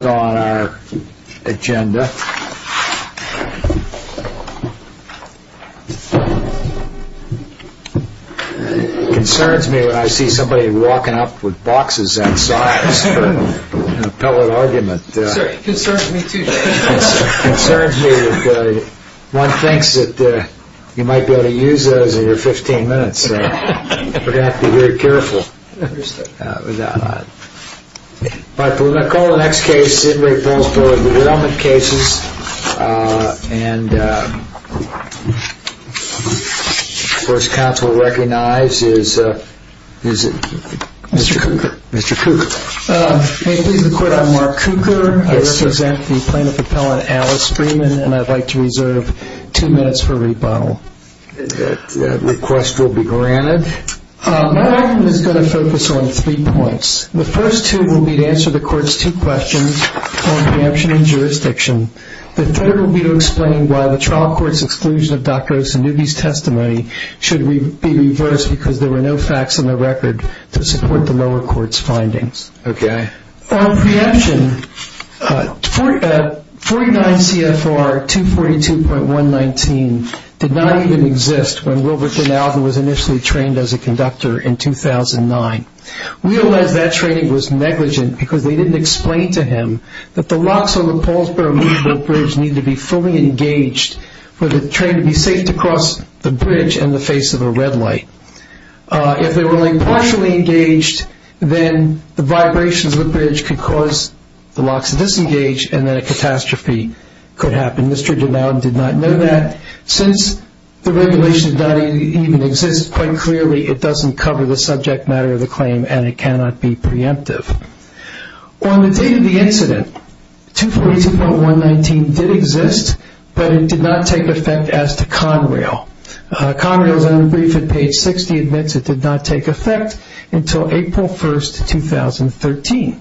on our agenda, it concerns me when I see somebody walking up with boxes that size in a pellet argument. It concerns me too, Jay. It concerns me that one thinks that you might be able to use those in your 15 minutes so we're going to have to be very careful. We're going to call the next case in Re Paulsboro Derailment Cases and the first counsel to recognize is Mr. Cooker. I'm Mark Cooker, I represent the plaintiff appellant Alice Freeman and I'd like to reserve two minutes for rebuttal. That request will be granted. My argument is going to focus on three points. The first two will be to answer the court's two questions on preemption and jurisdiction. The third will be to explain why the trial court's exclusion of Dr. Osanugi's testimony should be reversed because there were no facts in the record to support the lower court's findings. On preemption, 49 CFR 242.119 did not even exist when Wilbert Dinaldo was initially trained as a conductor in 2009. We realize that training was negligent because they didn't explain to him that the locks on the Paulsboro bridge need to be fully engaged for the train to be safe to cross the bridge in the face of a red light. If they were only partially engaged, then the vibrations of the bridge could cause the locks to disengage and then a catastrophe could happen. Mr. Dinaldo did not know that. Since the regulation did not even exist, quite clearly it doesn't cover the subject matter of the claim and it cannot be preemptive. On the date of the incident, 242.119 did exist, but it did not take effect as to Conrail. Conrail's own brief at page 60 admits it did not take effect until April 1, 2013.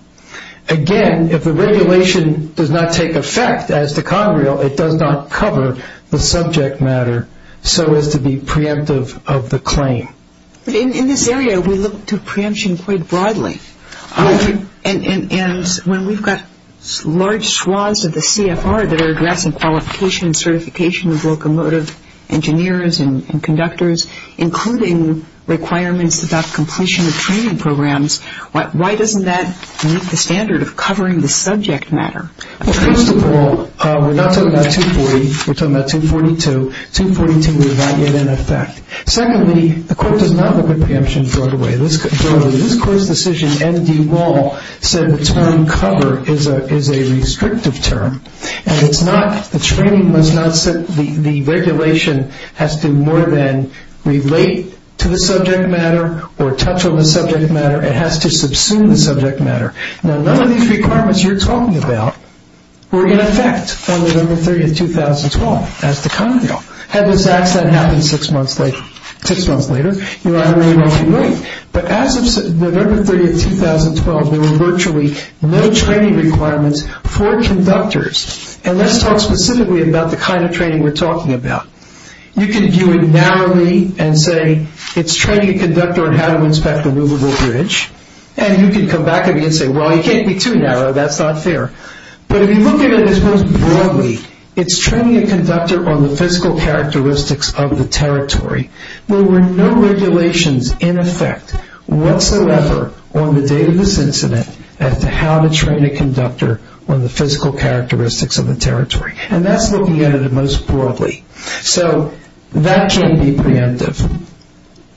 Again, if the regulation does not take effect as to Conrail, it does not cover the subject matter so as to be preemptive of the claim. In this area, we look to preemption quite broadly. And when we've got large swaths of the CFR that are addressing qualification and certification of locomotive engineers and conductors, including requirements about completion of training programs, why doesn't that meet the standard of covering the subject matter? Well, first of all, we're not talking about 240. We're talking about 242. 242 was not yet in effect. Secondly, the court does not look at preemption broadly. This court's decision, N.D. Wall, said the term cover is a restrictive term, and the regulation has to more than relate to the subject matter or touch on the subject matter. It has to subsume the subject matter. Now, none of these requirements you're talking about were in effect on November 30, 2012, as to Conrail. Had this accident happened six months later, you know, I don't really know what you mean. But as of November 30, 2012, there were virtually no training requirements for conductors. And let's talk specifically about the kind of training we're talking about. You can view it narrowly and say it's training a conductor on how to inspect a movable bridge, and you can come back at me and say, well, you can't be too narrow. That's not fair. But if you look at it as most broadly, it's training a conductor on the physical characteristics of the territory. There were no regulations in effect whatsoever on the date of this incident as to how to train a conductor on the physical characteristics of the territory. And that's looking at it most broadly. So that can be preemptive.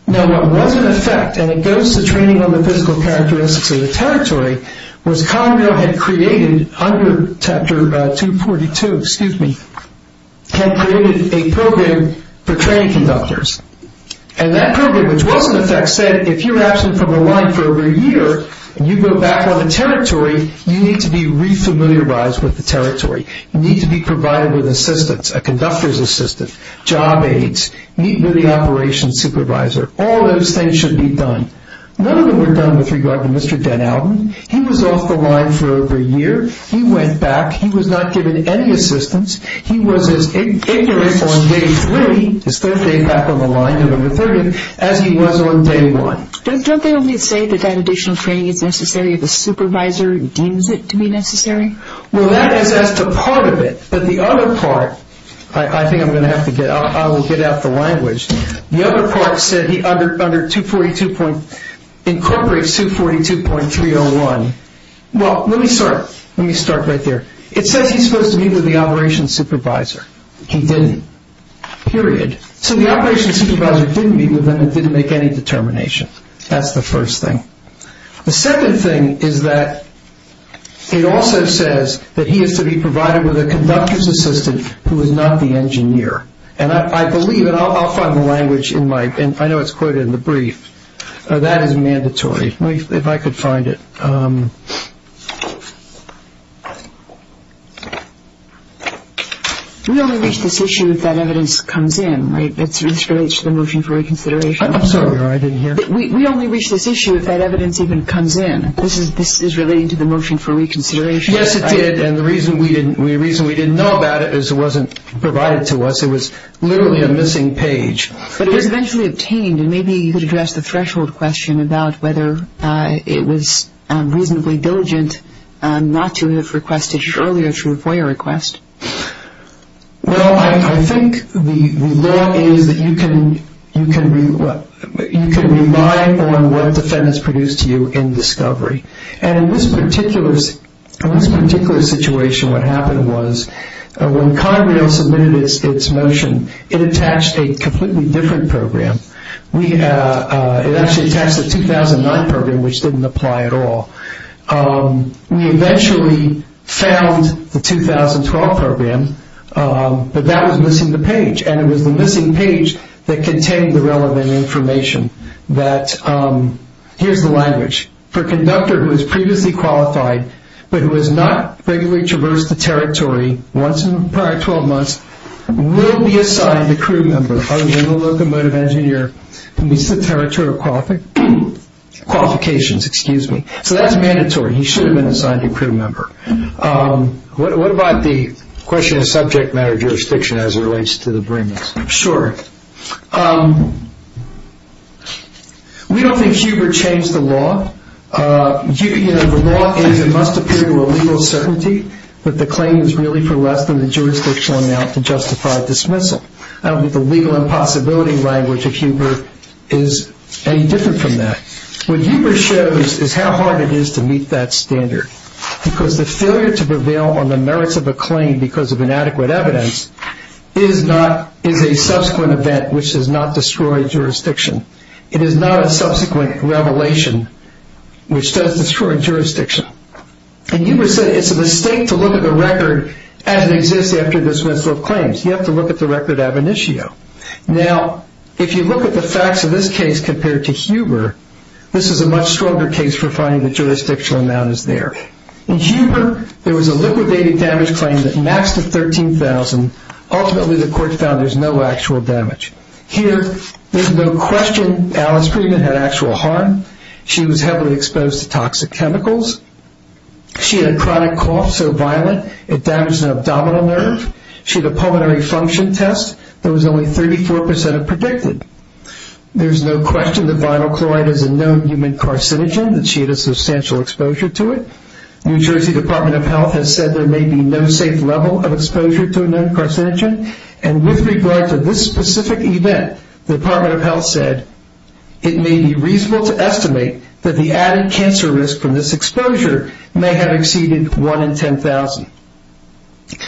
Now, what was in effect, and it goes to training on the physical characteristics of the territory, was Conrail had created, under Chapter 242, excuse me, had created a program for training conductors. And that program, which was in effect, said if you're absent from a line for over a year, and you go back on the territory, you need to be re-familiarized with the territory. You need to be provided with assistance, a conductor's assistant, job aides, meet with the operations supervisor. All those things should be done. None of them were done with regard to Mr. Den Alban. He was off the line for over a year. He went back. He was not given any assistance. He was as ignorant on Day 3, his Thursday nap on the line, November 30th, as he was on Day 1. Don't they only say that that additional training is necessary if the supervisor deems it to be necessary? Well, that is as to part of it. But the other part, I think I'm going to have to get out, I will get out the language. The other part said he incorporates 242.301. Well, let me start right there. It says he's supposed to meet with the operations supervisor. He didn't, period. So the operations supervisor didn't meet with him and didn't make any determination. That's the first thing. The second thing is that it also says that he is to be provided with a conductor's assistant who is not the engineer. And I believe, and I'll find the language in my, I know it's quoted in the brief, that is mandatory. If I could find it. We only reach this issue if that evidence comes in, right? This relates to the motion for reconsideration. I'm sorry. I didn't hear. We only reach this issue if that evidence even comes in. This is relating to the motion for reconsideration. Yes, it did, and the reason we didn't know about it is it wasn't provided to us. It was literally a missing page. But it was eventually obtained, and maybe you could address the threshold question about whether it was reasonably diligent not to have requested it earlier through a FOIA request. Well, I think the law is that you can rely on what the Fed has produced to you in discovery. And in this particular situation what happened was when Conrail submitted its motion, it attached a completely different program. It actually attached a 2009 program, which didn't apply at all. We eventually found the 2012 program, but that was missing the page, and it was the missing page that contained the relevant information. Here's the language. For a conductor who is previously qualified but who has not regularly traversed the territory once in the prior 12 months, will be assigned a crew member other than the locomotive engineer who meets the territorial qualifications. So that's mandatory. He should have been assigned a crew member. What about the question of subject matter jurisdiction as it relates to the bringers? Sure. We don't think Huber changed the law. The law is it must appear to a legal certainty that the claim is really for less than the jurisdictional amount to justify dismissal. I don't think the legal impossibility language of Huber is any different from that. What Huber shows is how hard it is to meet that standard because the failure to prevail on the merits of a claim because of inadequate evidence is a subsequent event which does not destroy jurisdiction. It is not a subsequent revelation which does destroy jurisdiction. And Huber said it's a mistake to look at the record as it exists after dismissal of claims. You have to look at the record ab initio. Now, if you look at the facts of this case compared to Huber, this is a much stronger case for finding the jurisdictional amount is there. In Huber, there was a liquidated damage claim that matched the $13,000. Ultimately, the court found there's no actual damage. Here, there's no question Alice Friedman had actual harm. She was heavily exposed to toxic chemicals. She had a chronic cough so violent it damaged an abdominal nerve. She had a pulmonary function test that was only 34% of predicted. There's no question that vinyl chloride is a known human carcinogen and she had a substantial exposure to it. New Jersey Department of Health has said there may be no safe level of exposure to a known carcinogen. And with regard to this specific event, the Department of Health said it may be reasonable to estimate that the added cancer risk from this exposure may have exceeded 1 in 10,000.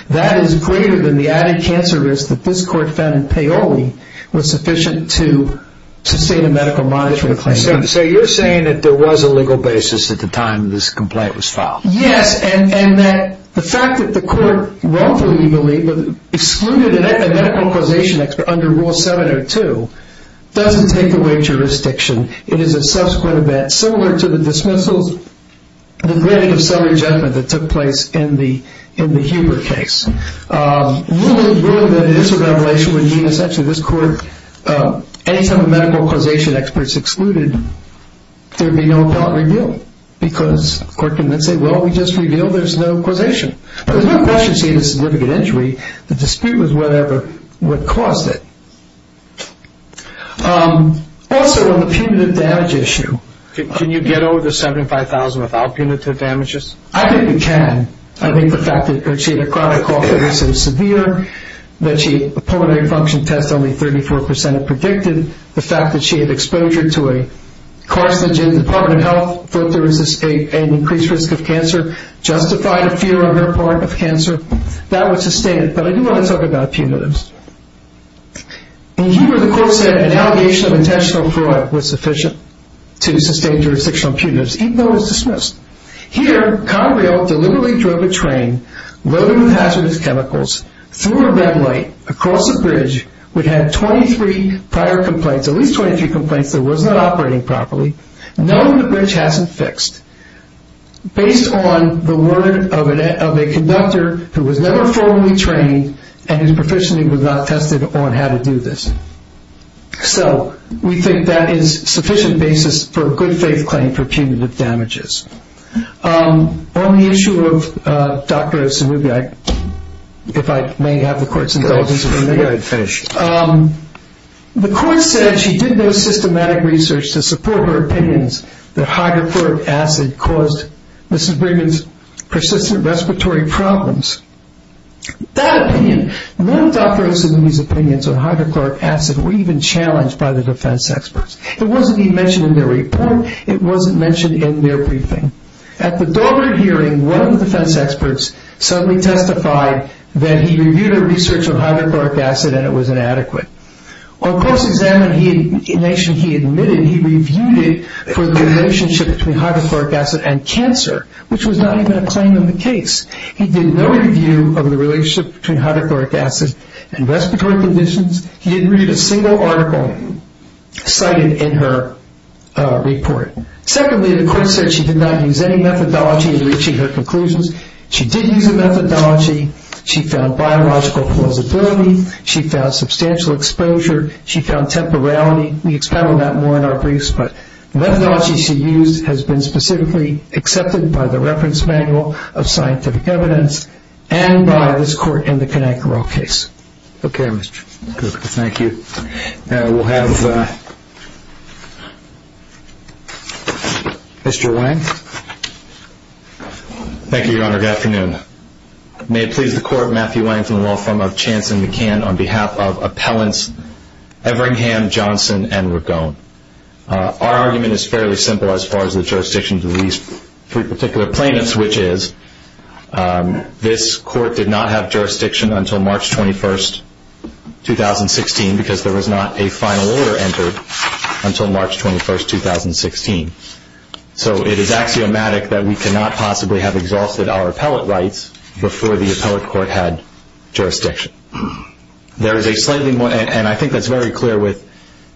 That is greater than the added cancer risk that this court found in Paoli was sufficient to sustain a medical monitoring claim. So you're saying that there was a legal basis at the time this complaint was filed? Yes, and that the fact that the court wrongfully, we believe, excluded a medical causation expert under Rule 702 doesn't take away jurisdiction. It is a subsequent event similar to the dismissals and the granted of self-rejection that took place in the Huber case. Ruling that it is a revelation would mean, essentially, this court, any time a medical causation expert is excluded, there would be no appellate revealed. Because the court can then say, well, we just revealed there's no causation. But there's no question she had a significant injury. The dispute was whatever caused it. Also, on the punitive damage issue. Can you get over the 75,000 without punitive damages? I think we can. I think the fact that she had a chronic cough that was so severe, that she had a pulmonary function test only 34% of predicted, the fact that she had exposure to a carcinogen in the Department of Health, thought there was an increased risk of cancer, justified a fear on her part of cancer. That was sustained. But I do want to talk about punitives. In Huber, the court said an allegation of intentional fraud was sufficient to sustain jurisdictional punitives, even though it was dismissed. Here, Conrail deliberately drove a train loaded with hazardous chemicals, threw a red light across a bridge, would have 23 prior complaints, at least 23 complaints that it was not operating properly, knowing the bridge hasn't fixed. Based on the word of a conductor who was never formally trained and his proficiency was not tested on how to do this. So we think that is sufficient basis for a good faith claim for punitive damages. On the issue of Dr. Osamubi, if I may have the court's indulgence. Go ahead, finish. The court said she did no systematic research to support her opinions that hydrochloric acid caused Mrs. Brigham's persistent respiratory problems. That opinion, none of Dr. Osamumi's opinions on hydrochloric acid were even challenged by the defense experts. It wasn't even mentioned in their report. It wasn't mentioned in their briefing. At the Doberman hearing, one of the defense experts suddenly testified that he reviewed her research on hydrochloric acid and it was inadequate. On close examination, he admitted he reviewed it for the relationship between hydrochloric acid and cancer, which was not even a claim in the case. He did no review of the relationship between hydrochloric acid and respiratory conditions. He didn't read a single article cited in her report. Secondly, the court said she did not use any methodology in reaching her conclusions. She did use a methodology. She found biological plausibility. She found substantial exposure. She found temporality. We expound on that more in our briefs, but the methodology she used has been specifically accepted by the Reference Manual of Scientific Evidence and by this court in the Conankerall case. Okay, Mr. Cook. Thank you. We'll have Mr. Lang. Thank you, Your Honor. Good afternoon. May it please the Court, Matthew Lang from the law firm of Chance & McCann, on behalf of appellants Everingham, Johnson, and Ragon. Our argument is fairly simple as far as the jurisdiction to these three particular plaintiffs, which is this court did not have jurisdiction until March 21, 2016, because there was not a final order entered until March 21, 2016. So it is axiomatic that we could not possibly have exhausted our appellate rights before the appellate court had jurisdiction. There is a slightly more, and I think that's very clear with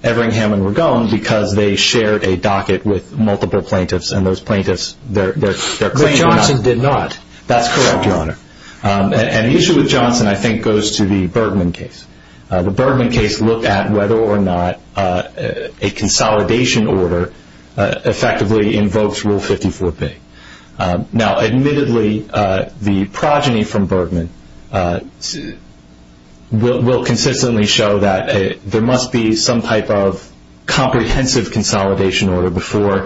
Everingham and Ragon, because they shared a docket with multiple plaintiffs, and those plaintiffs, their claim did not. But Johnson did not. That's correct, Your Honor. And the issue with Johnson, I think, goes to the Bergman case. The Bergman case looked at whether or not a consolidation order effectively invokes Rule 54B. Now, admittedly, the progeny from Bergman will consistently show that there must be some type of comprehensive consolidation order before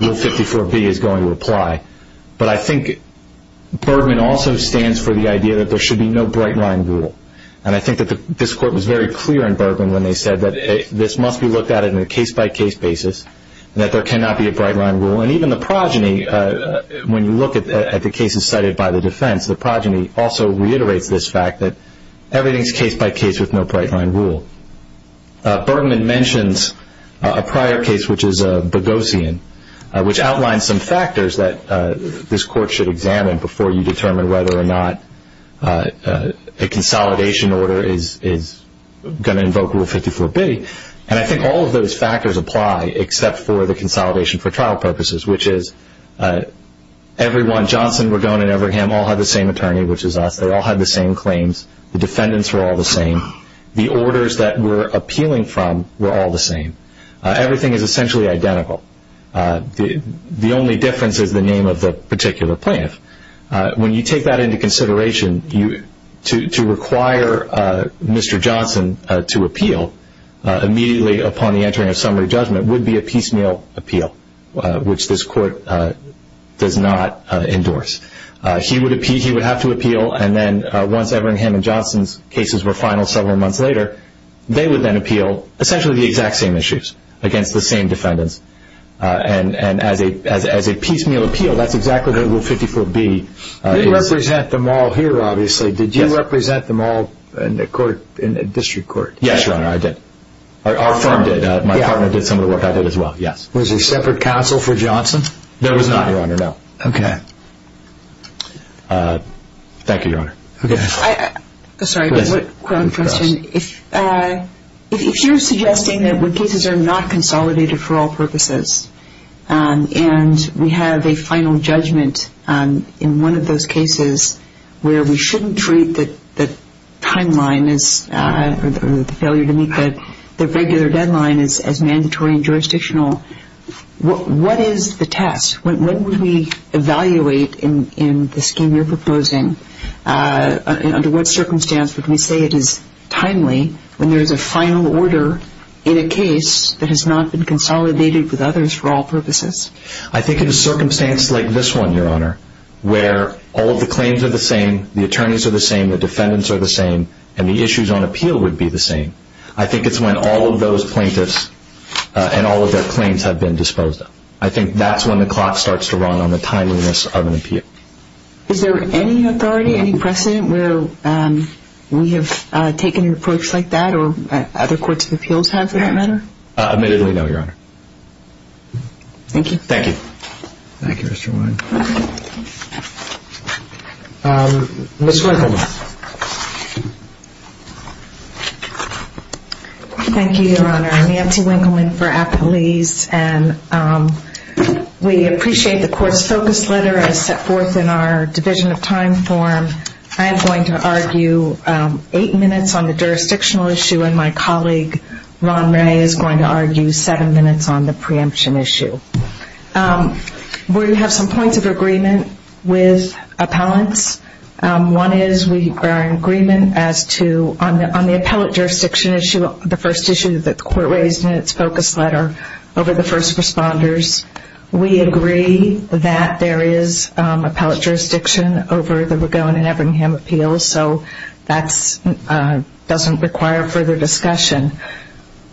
Rule 54B is going to apply. But I think Bergman also stands for the idea that there should be no bright-line rule. And I think that this Court was very clear in Bergman when they said that this must be looked at in a case-by-case basis, and that there cannot be a bright-line rule. And even the progeny, when you look at the cases cited by the defense, the progeny also reiterates this fact that everything is case-by-case with no bright-line rule. Bergman mentions a prior case, which is Boghossian, which outlines some factors that this Court should examine before you determine whether or not a consolidation order is going to invoke Rule 54B. And I think all of those factors apply except for the consolidation for trial purposes, which is everyone, Johnson, Ragone, and Everham all had the same attorney, which is us. They all had the same claims. The defendants were all the same. The orders that we're appealing from were all the same. Everything is essentially identical. The only difference is the name of the particular plaintiff. When you take that into consideration, to require Mr. Johnson to appeal, immediately upon the entering of summary judgment would be a piecemeal appeal, which this Court does not endorse. He would have to appeal, and then once Everham and Johnson's cases were final several months later, they would then appeal essentially the exact same issues against the same defendants. And as a piecemeal appeal, that's exactly what Rule 54B is. You represent them all here, obviously. Did you represent them all in the District Court? Yes, Your Honor, I did. Our firm did. My partner did some of the work. I did as well, yes. Was there separate counsel for Johnson? There was not, Your Honor, no. Okay. Thank you, Your Honor. Sorry, just one question. If you're suggesting that when cases are not consolidated for all purposes and we have a final judgment in one of those cases where we shouldn't treat the timeline or the failure to meet the regular deadline as mandatory and jurisdictional, what is the test? When would we evaluate in the scheme you're proposing, under what circumstance would we say it is timely when there is a final order in a case that has not been consolidated with others for all purposes? I think in a circumstance like this one, Your Honor, where all of the claims are the same, the attorneys are the same, the defendants are the same, and the issues on appeal would be the same, I think it's when all of those plaintiffs and all of their claims have been disposed of. I think that's when the clock starts to run on the timeliness of an appeal. Is there any authority, any precedent where we have taken an approach like that or other courts of appeals have for that matter? Admittedly, no, Your Honor. Thank you. Thank you. Thank you, Mr. Wein. Ms. Winkleman. Thank you, Your Honor. I'm Nancy Winkleman for Appalese, and we appreciate the court's focus letter as set forth in our Division of Time form. I am going to argue eight minutes on the jurisdictional issue, and my colleague Ron Ray is going to argue seven minutes on the preemption issue. We have some points of agreement with appellants. One is we are in agreement as to on the appellate jurisdiction issue, the first issue that the court raised in its focus letter over the first responders, we agree that there is appellate jurisdiction over the McGowan and Everingham appeals, so that doesn't require further discussion.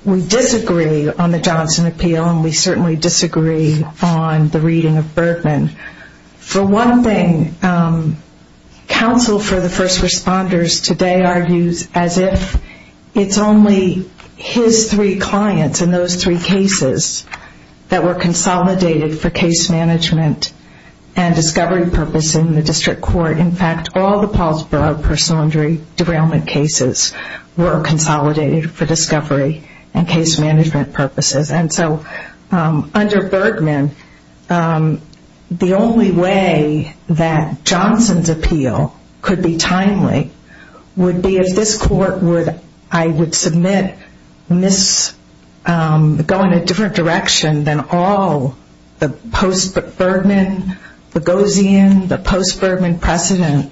We disagree on the Johnson appeal, and we certainly disagree on the reading of Bergman. For one thing, counsel for the first responders today argues as if it's only his three clients and those three cases that were consolidated for case management and discovery purpose in the district court. In fact, all the Paulsborough personal injury derailment cases were consolidated for discovery and case management purposes. And so under Bergman, the only way that Johnson's appeal could be timely would be if this court would, I would submit, go in a different direction than all the post-Bergman, the Boghossian, the post-Bergman precedent,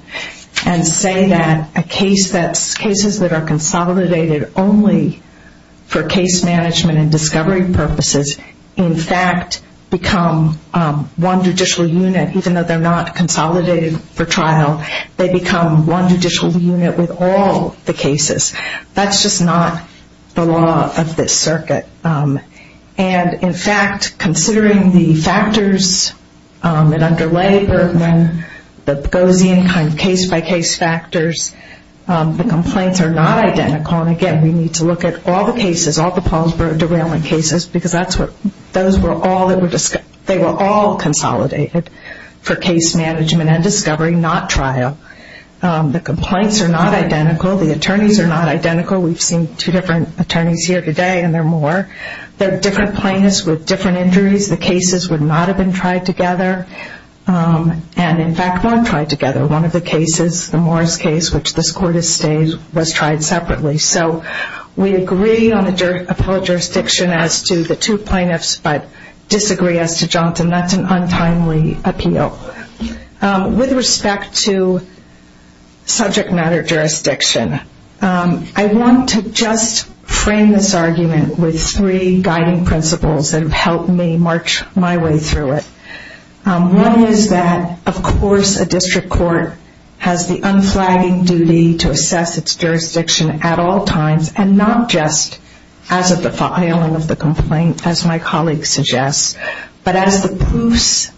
and say that a case that's, you know, consolidated only for case management and discovery purposes, in fact, become one judicial unit, even though they're not consolidated for trial, they become one judicial unit with all the cases. That's just not the law of this circuit. And in fact, considering the factors that underlay Bergman, the Boghossian kind of case-by-case factors, the complaints are not identical. And again, we need to look at all the cases, all the Paulsborough derailment cases, because that's what, those were all that were, they were all consolidated for case management and discovery, not trial. The complaints are not identical. The attorneys are not identical. We've seen two different attorneys here today, and there are more. They're different plaintiffs with different injuries. The cases would not have been tried together. And in fact, one tried together, one of the cases, the Morris case, which this Court has stayed, was tried separately. So we agree on the appeal of jurisdiction as to the two plaintiffs, but disagree as to Johnson. That's an untimely appeal. With respect to subject matter jurisdiction, I want to just frame this argument with three guiding principles that have helped me march my way through it. One is that, of course, a district court has the unflagging duty to assess its jurisdiction at all times, and not just as of the filing of the complaint, as my colleague suggests, but as the proofs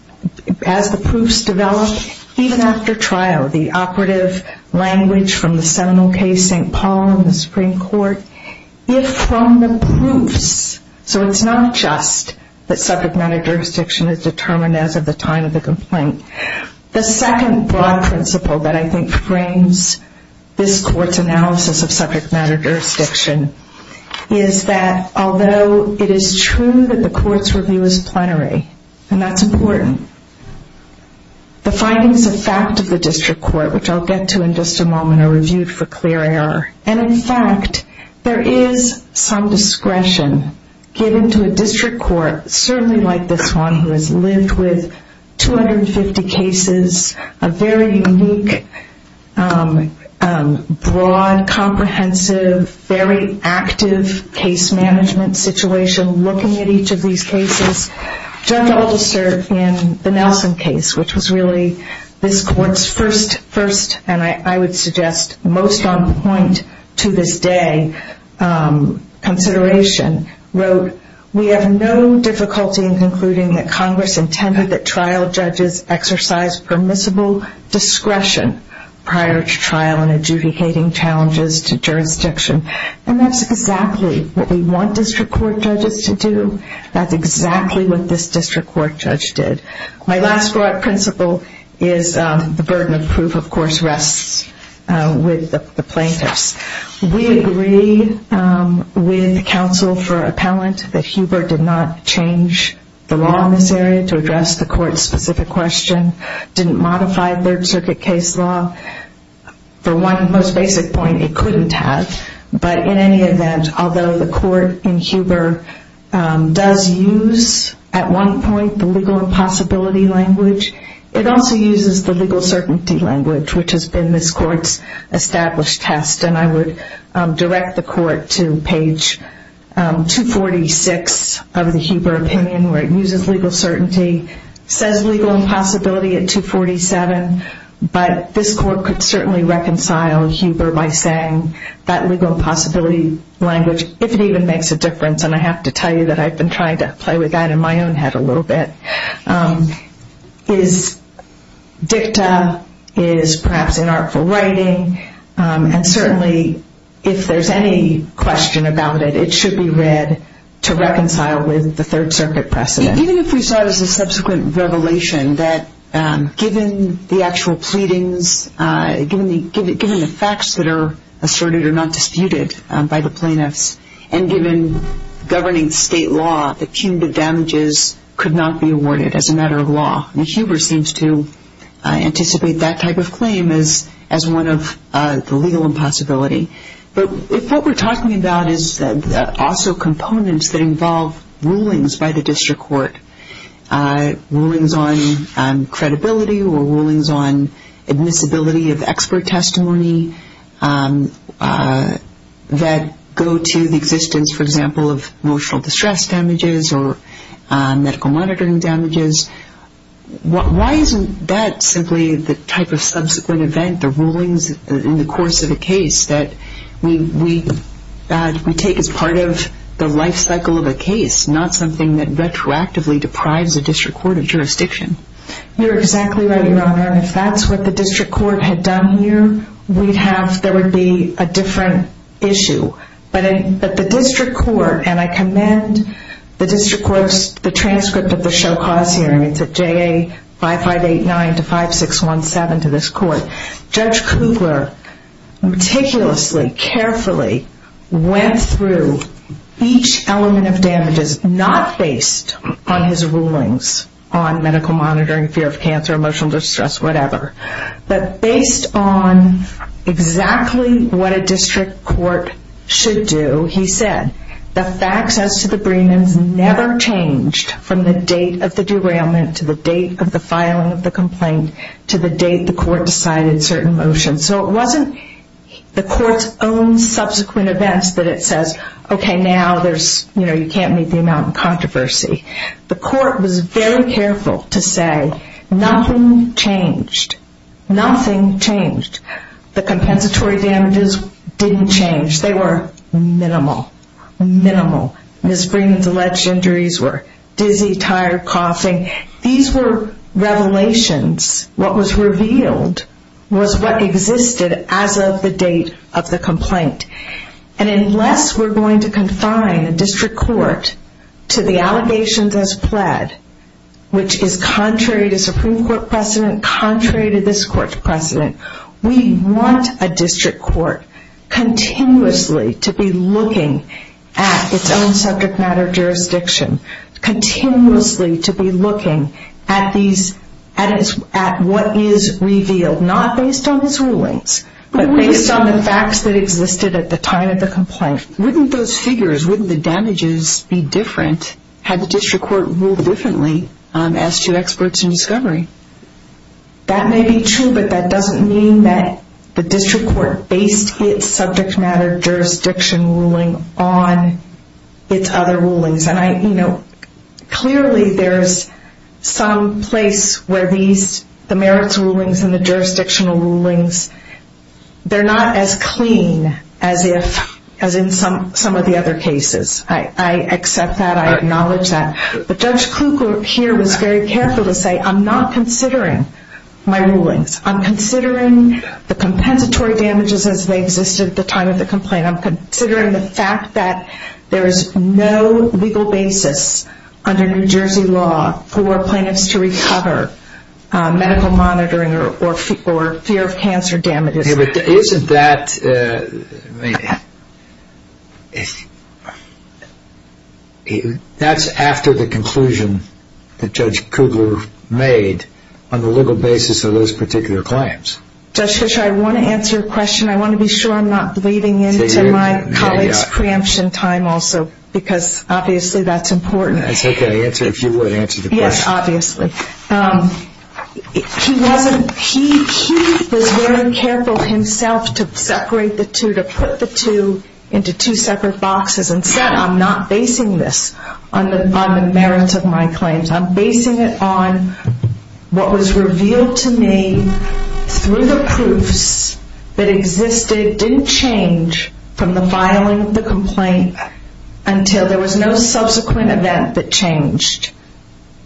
develop, even after trial, the operative language from the seminal case St. Paul in the Supreme Court, if from the proofs, so it's not just that subject matter jurisdiction is determined as of the time of the complaint. The second broad principle that I think frames this Court's analysis of subject matter jurisdiction is that, although it is true that the Court's review is plenary, and that's important, the findings of fact of the district court, which I'll get to in just a moment, are reviewed for clear error. And in fact, there is some discretion given to a district court, certainly like this one, who has lived with 250 cases, a very unique, broad, comprehensive, very active case management situation, looking at each of these cases. Judge Aldister, in the Nelson case, which was really this Court's first, and I would suggest most on point to this day, consideration, wrote, we have no difficulty in concluding that Congress intended that trial judges exercise permissible discretion prior to trial in adjudicating challenges to jurisdiction. And that's exactly what we want district court judges to do. That's exactly what this district court judge did. My last broad principle is the burden of proof, of course, rests with the plaintiffs. We agree with counsel for appellant that Huber did not change the law in this area to address the Court's specific question, didn't modify third circuit case law. For one most basic point, it couldn't have. But in any event, although the Court in Huber does use, at one point, the legal impossibility language, it also uses the legal certainty language, which has been this Court's established test. And I would direct the Court to page 246 of the Huber opinion, where it uses legal certainty, says legal impossibility at 247, but this Court could certainly reconcile Huber by saying that legal impossibility language, if it even makes a difference, and I have to tell you that I've been trying to play with that in my own head a little bit, is dicta, is perhaps inartful writing, and certainly if there's any question about it, it should be read to reconcile with the third circuit precedent. Even if we saw it as a subsequent revelation that given the actual pleadings, given the facts that are asserted or not disputed by the plaintiffs, and given governing state law, the cumulative damages could not be awarded as a matter of law. And Huber seems to anticipate that type of claim as one of the legal impossibility. But if what we're talking about is also components that involve rulings by the district court, rulings on credibility or rulings on admissibility of expert testimony that go to the existence, for example, of emotional distress damages or medical monitoring damages, why isn't that simply the type of subsequent event, the rulings in the course of a case that we take as part of the life cycle of a case, not something that retroactively deprives a district court of jurisdiction? You're exactly right, Your Honor. And if that's what the district court had done here, there would be a different issue. But the district court, and I commend the district court's transcript of the Show Cause hearing, it's at JA 5589-5617 to this court, Judge Kugler meticulously, carefully went through each element of damages, not based on his rulings on medical monitoring, fear of cancer, emotional distress, whatever, but based on exactly what a district court should do. He said the facts as to the briefings never changed from the date of the derailment to the date of the filing of the complaint to the date the court decided certain motions. So it wasn't the court's own subsequent events that it says, okay, now you can't meet the amount of controversy. The court was very careful to say nothing changed. Nothing changed. The compensatory damages didn't change. They were minimal, minimal. Ms. Freeman's alleged injuries were dizzy, tired, coughing. These were revelations. What was revealed was what existed as of the date of the complaint. And unless we're going to confine a district court to the allegations as pled, which is contrary to Supreme Court precedent, contrary to this court's precedent, we want a district court continuously to be looking at its own subject matter jurisdiction, continuously to be looking at what is revealed, not based on his rulings, but based on the facts that existed at the time of the complaint. Wouldn't those figures, wouldn't the damages be different had the district court ruled differently as to experts in discovery? That may be true, but that doesn't mean that the district court based its subject matter jurisdiction ruling on its other rulings. Clearly, there's some place where the merits rulings and the jurisdictional rulings, they're not as clean as in some of the other cases. I accept that. I acknowledge that. But Judge Kluge here was very careful to say, I'm not considering my rulings. I'm considering the compensatory damages as they existed at the time of the complaint. I'm considering the fact that there is no legal basis under New Jersey law for plaintiffs to recover medical monitoring or fear of cancer damages. Isn't that, that's after the conclusion that Judge Kugler made on the legal basis of those particular claims. Judge Fischer, I want to answer a question. I want to be sure I'm not bleeding into my colleague's preemption time also, because obviously that's important. That's okay to answer if you would answer the question. Yes, obviously. He wasn't, he was very careful himself to separate the two, to put the two into two separate boxes and said, I'm not basing this on the merits of my claims. I'm basing it on what was revealed to me through the proofs that existed, didn't change from the filing of the complaint until there was no subsequent event that changed.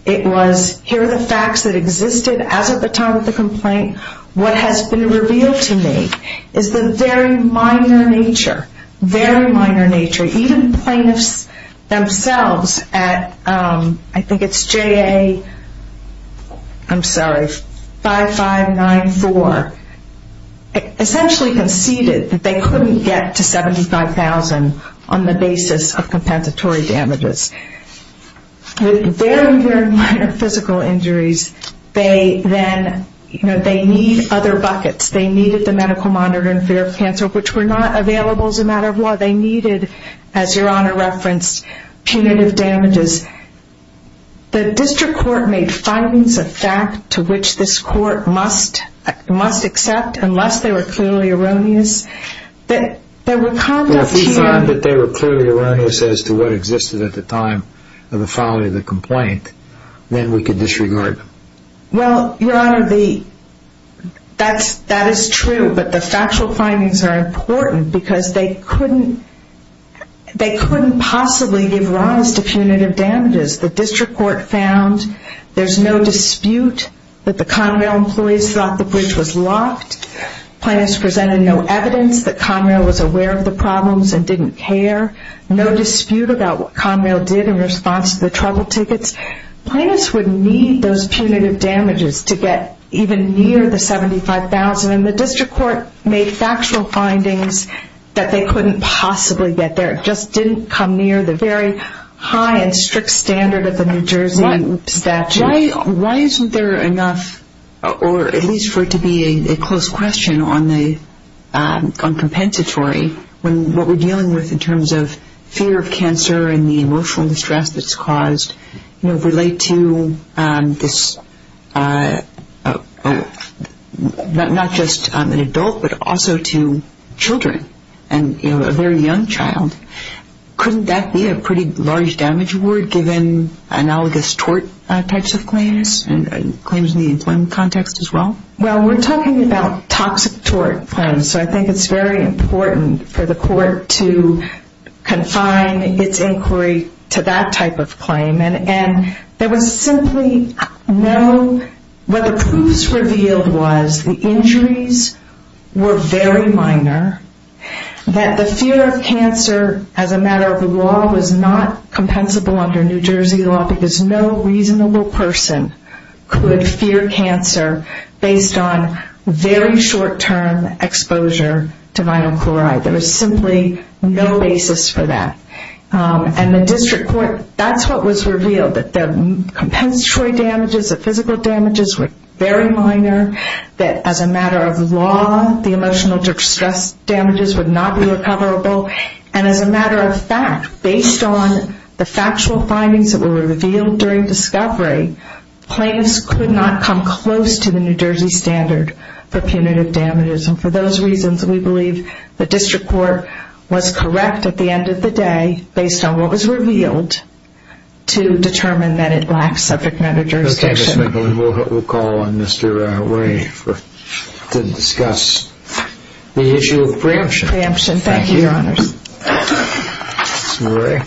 It was, here are the facts that existed as of the time of the complaint. What has been revealed to me is the very minor nature, very minor nature. Even plaintiffs themselves at, I think it's JA, I'm sorry, 5594, essentially conceded that they couldn't get to 75,000 on the basis of compensatory damages. Very, very minor physical injuries. They then, you know, they need other buckets. They needed the medical monitoring of fear of cancer, which were not available as a matter of law. They needed, as Your Honor referenced, punitive damages. The district court made findings of fact to which this court must accept unless they were clearly erroneous. If we find that they were clearly erroneous as to what existed at the time of the filing of the complaint, then we could disregard them. Well, Your Honor, that is true, but the factual findings are important because they couldn't possibly give rise to punitive damages. The district court found there's no dispute that the Conrail employees thought the bridge was locked. Plaintiffs presented no evidence that Conrail was aware of the problems and didn't care. No dispute about what Conrail did in response to the trouble tickets. Plaintiffs would need those punitive damages to get even near the 75,000. The district court made factual findings that they couldn't possibly get there. It just didn't come near the very high and strict standard of the New Jersey statute. Why isn't there enough, or at least for it to be a close question on compensatory, when what we're dealing with in terms of fear of cancer and the emotional distress that's caused relate to not just an adult, but also to children and a very young child? Couldn't that be a pretty large damage award given analogous tort types of claims and claims in the employment context as well? Well, we're talking about toxic tort claims, so I think it's very important for the court to confine its inquiry to that type of claim. And there was simply no, what the proofs revealed was the injuries were very minor, that the fear of cancer as a matter of the law was not compensable under New Jersey law because no reasonable person could fear cancer based on very short-term exposure to vinyl chloride. There was simply no basis for that. And the district court, that's what was revealed, that the compensatory damages, the physical damages were very minor, that as a matter of law the emotional distress damages would not be recoverable. And as a matter of fact, based on the factual findings that were revealed during discovery, claims could not come close to the New Jersey standard for punitive damages. And for those reasons, we believe the district court was correct at the end of the day, based on what was revealed, to determine that it lacks subject matter jurisdiction. Okay, Ms. McGlynn, we'll call on Mr. Ray to discuss the issue of preemption. Thank you, Your Honors. Mr. Ray.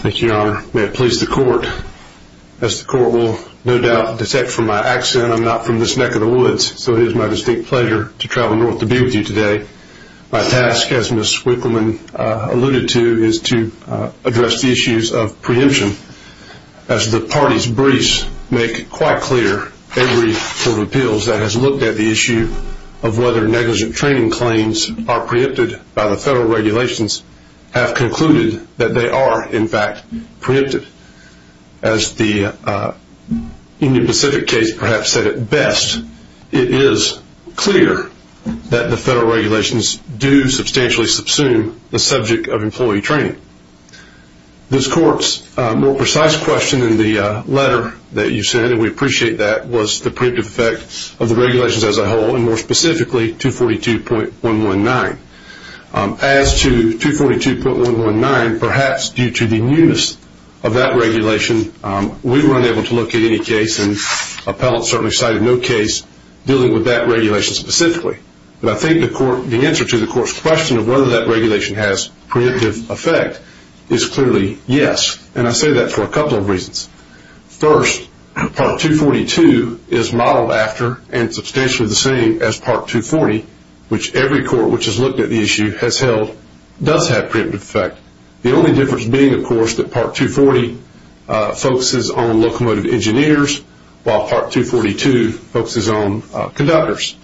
Thank you, Your Honor. May it please the court. As the court will no doubt detect from my accent, I'm not from this neck of the woods, so it is my distinct pleasure to travel north to be with you today. My task, as Ms. Wickleman alluded to, is to address the issues of preemption. As the party's briefs make quite clear, every court of appeals that has looked at the issue of whether negligent training claims are preempted by the federal regulations have concluded that they are, in fact, preempted. As the Indian Pacific case perhaps said it best, it is clear that the federal regulations do substantially subsume the subject of employee training. This court's more precise question in the letter that you sent, and we appreciate that, was the preemptive effect of the regulations as a whole, and more specifically 242.119. As to 242.119, perhaps due to the newness of that regulation, we were unable to look at any case, and appellants certainly cited no case dealing with that regulation specifically. But I think the answer to the court's question of whether that regulation has preemptive effect is clearly yes, and I say that for a couple of reasons. First, Part 242 is modeled after and substantially the same as Part 240, which every court which has looked at the issue has held does have preemptive effect, the only difference being, of course, that Part 240 focuses on locomotive engineers while Part 242 focuses on conductors.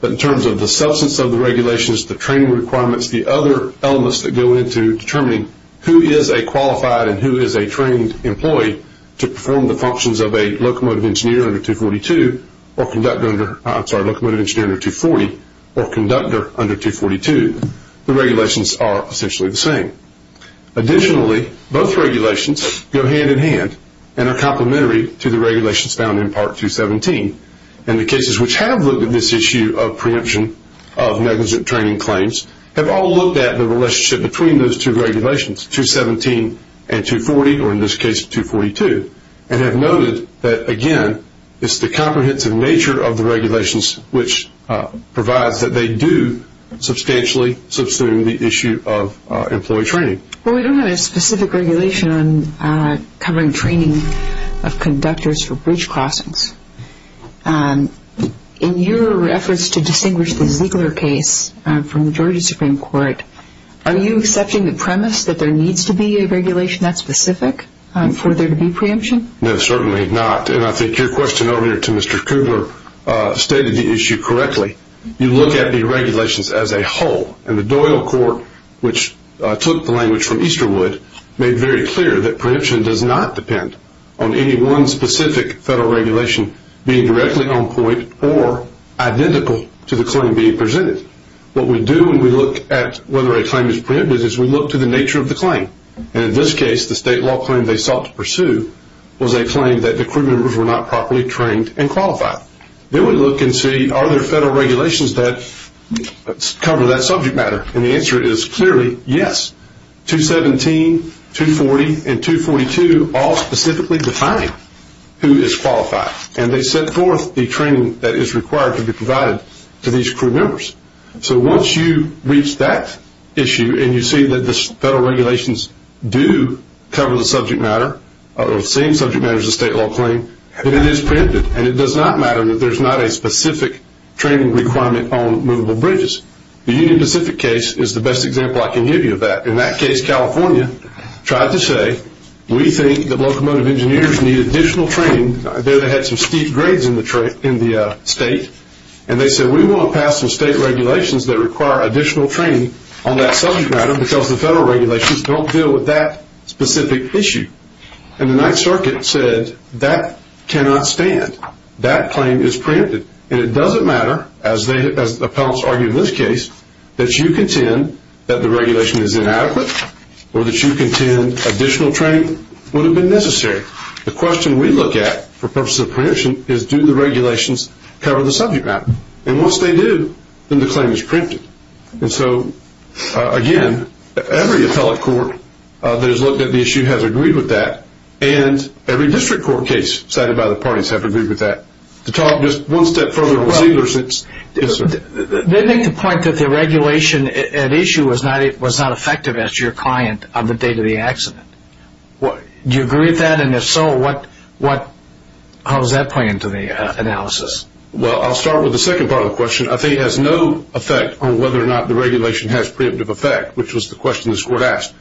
But in terms of the substance of the regulations, the training requirements, the other elements that go into determining who is a qualified and who is a trained employee to perform the functions of a locomotive engineer under 242, or conductor under, I'm sorry, locomotive engineer under 240, or conductor under 242, the regulations are essentially the same. Additionally, both regulations go hand in hand and are complementary to the regulations found in Part 217, and the cases which have looked at this issue of preemption of negligent training claims have all looked at the relationship between those two regulations, 217 and 240, or in this case, 242, and have noted that, again, it's the comprehensive nature of the regulations which provides that they do substantially subsume the issue of employee training. Well, we don't have a specific regulation on covering training of conductors for bridge crossings. In your efforts to distinguish the Ziegler case from the Georgia Supreme Court, are you accepting the premise that there needs to be a regulation that's specific for there to be preemption? No, certainly not, and I think your question earlier to Mr. Coogler stated the issue correctly. You look at the regulations as a whole, and the Doyle Court, which took the language from Easterwood, made very clear that preemption does not depend on any one specific federal regulation being directly on point or identical to the claim being presented. What we do when we look at whether a claim is preempted is we look to the nature of the claim, and in this case, the state law claim they sought to pursue was a claim that the crew members were not properly trained and qualified. Then we look and see are there federal regulations that cover that subject matter, and the answer is clearly yes. 217, 240, and 242 all specifically define who is qualified, and they set forth the training that is required to be provided to these crew members. So once you reach that issue and you see that the federal regulations do cover the subject matter or the same subject matter as the state law claim, then it is preempted, and it does not matter that there is not a specific training requirement on movable bridges. The Union Pacific case is the best example I can give you of that. In that case, California tried to say we think that locomotive engineers need additional training. They had some steep grades in the state, and they said we want to pass some state regulations that require additional training on that subject matter because the federal regulations don't deal with that specific issue, and the Ninth Circuit said that cannot stand. That claim is preempted, and it doesn't matter, as appellants argue in this case, that you contend that the regulation is inadequate or that you contend additional training would have been necessary. The question we look at for purposes of preemption is do the regulations cover the subject matter, and once they do, then the claim is preempted. And so, again, every appellate court that has looked at the issue has agreed with that, and every district court case cited by the parties have agreed with that. To talk just one step further on sealer suits. They make the point that the regulation at issue was not effective as your client on the day of the accident. Do you agree with that, and if so, how does that play into the analysis? Well, I'll start with the second part of the question. I think it has no effect on whether or not the regulation has preemptive effect, which was the question this court asked,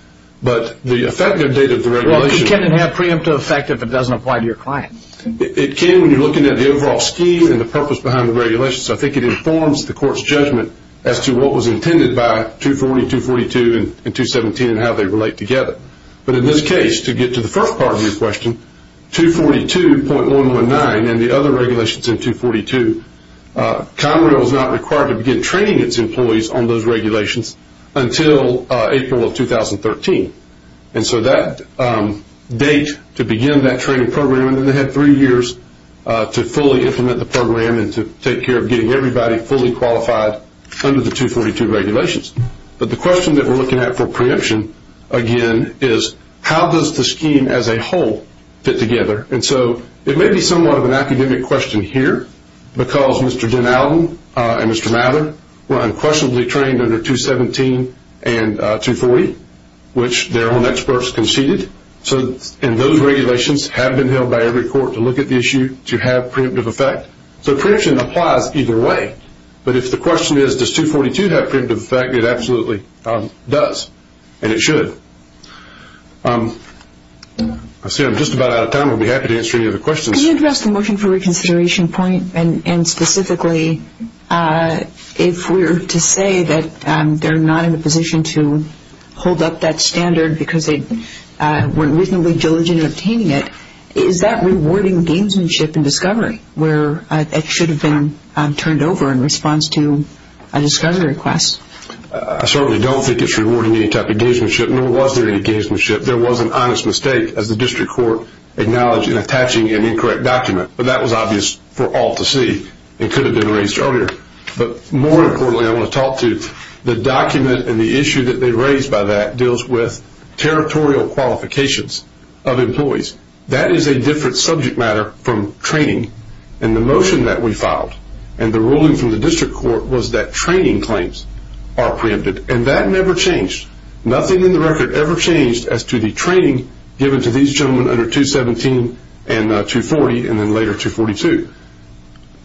but the effective date of the regulation. Well, can it have preemptive effect if it doesn't apply to your client? It can when you're looking at the overall scheme and the purpose behind the regulations. I think it informs the court's judgment as to what was intended by 240, 242, and 217 and how they relate together. But in this case, to get to the first part of your question, 242.119 and the other regulations in 242, Conrail is not required to begin training its employees on those regulations until April of 2013. And so that date to begin that training program, and then they had three years to fully implement the program and to take care of getting everybody fully qualified under the 242 regulations. But the question that we're looking at for preemption, again, is how does the scheme as a whole fit together? And so it may be somewhat of an academic question here, because Mr. DenAllen and Mr. Mather were unquestionably trained under 217 and 240, which their own experts conceded. And those regulations have been held by every court to look at the issue to have preemptive effect. So preemption applies either way. But if the question is, does 242 have preemptive effect, it absolutely does, and it should. I see I'm just about out of time. I'll be happy to answer any other questions. Can you address the motion for reconsideration point? And specifically, if we were to say that they're not in a position to hold up that standard because they weren't reasonably diligent in obtaining it, is that rewarding gamesmanship and discovery, where it should have been turned over in response to a discovery request? I certainly don't think it's rewarding any type of gamesmanship, nor was there any gamesmanship. There was an honest mistake, as the district court acknowledged in attaching an incorrect document. But that was obvious for all to see. It could have been raised earlier. But more importantly, I want to talk to the document and the issue that they raised by that deals with territorial qualifications of employees. That is a different subject matter from training. And the motion that we filed and the ruling from the district court was that training claims are preempted. And that never changed. Nothing in the record ever changed as to the training given to these gentlemen under 217 and 240 and then later 242.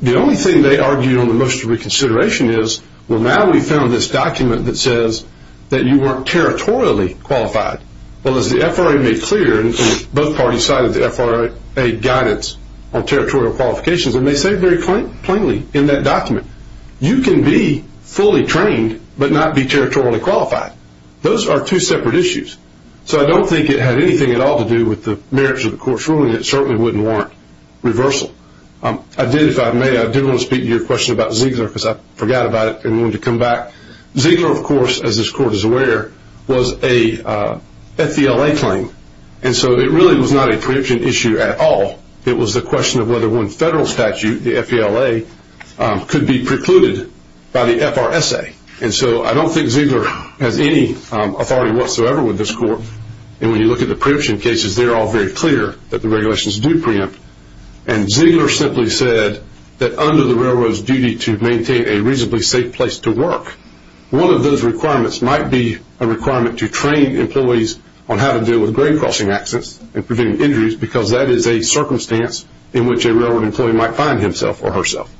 The only thing they argued on the motion for reconsideration is, well, now we found this document that says that you weren't territorially qualified. Well, as the FRA made clear, and both parties cited the FRA guidance on territorial qualifications, and they say very plainly in that document, you can be fully trained but not be territorially qualified. Those are two separate issues. So I don't think it had anything at all to do with the merits of the court's ruling. It certainly wouldn't warrant reversal. I did, if I may, I did want to speak to your question about Ziegler because I forgot about it and wanted to come back. Ziegler, of course, as this court is aware, was a FVLA claim. And so it really was not a preemption issue at all. It was a question of whether one federal statute, the FVLA, could be precluded by the FRSA. And so I don't think Ziegler has any authority whatsoever with this court. And when you look at the preemption cases, they're all very clear that the regulations do preempt. And Ziegler simply said that under the railroad's duty to maintain a reasonably safe place to work, one of those requirements might be a requirement to train employees on how to deal with grain crossing accidents and preventing injuries because that is a circumstance in which a railroad employee might find himself or herself.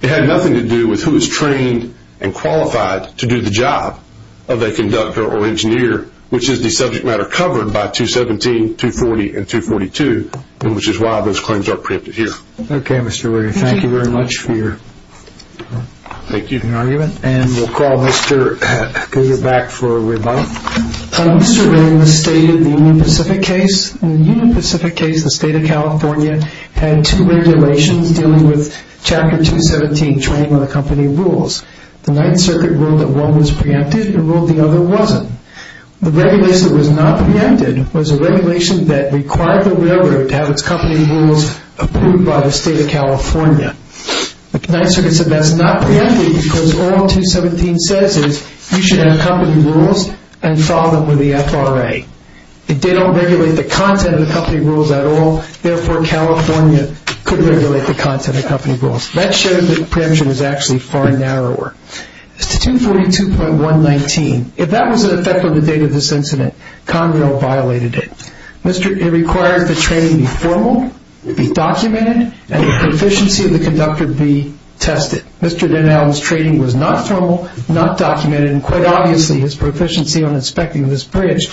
It had nothing to do with who is trained and qualified to do the job of a conductor or engineer, which is the subject matter covered by 217, 240, and 242, which is why those claims are preempted here. Okay, Mr. Waring. Thank you very much for your argument. And we'll call Mr. Goger back for a rebuttal. Mr. Waring, the state of the Union Pacific case, the state of California, had two regulations dealing with Chapter 217 training on the company rules. The Ninth Circuit ruled that one was preempted and ruled the other wasn't. The regulation that was not preempted was a regulation that required the railroad to have its company rules approved by the state of California. The Ninth Circuit said that's not preempted because all 217 says is you should have company rules and follow them with the FRA. They don't regulate the content of the company rules at all. Therefore, California could regulate the content of company rules. That showed that preemption was actually far narrower. As to 242.119, if that was in effect on the date of this incident, Conrail violated it. It required the training be formal, be documented, and the proficiency of the conductor be tested. Mr. DenAllen's training was not formal, not documented, and quite obviously his proficiency on inspecting this bridge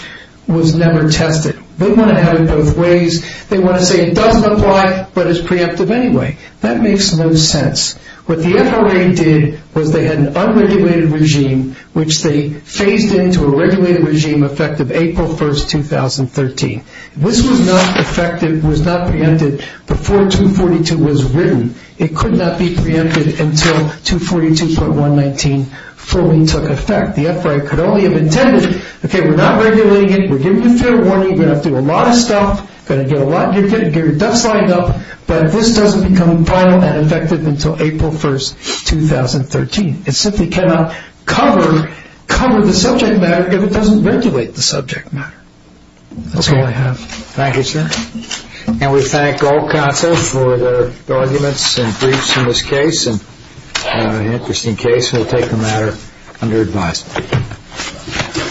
was never tested. They want to have it both ways. They want to say it doesn't apply but is preemptive anyway. That makes no sense. What the FRA did was they had an unregulated regime, which they phased into a regulated regime effective April 1, 2013. This was not effective, was not preempted before 242 was written. It could not be preempted until 242.119 fully took effect. The FRA could only have intended, okay, we're not regulating it. We're giving you fair warning. You're going to have to do a lot of stuff. You're going to get your ducks lined up. But this doesn't become final and effective until April 1, 2013. It simply cannot cover the subject matter if it doesn't regulate the subject matter. That's all I have. Thank you, sir. And we thank all counsel for their arguments and briefs in this case. An interesting case. We'll take the matter under advisement. Any other thoughts? Okay.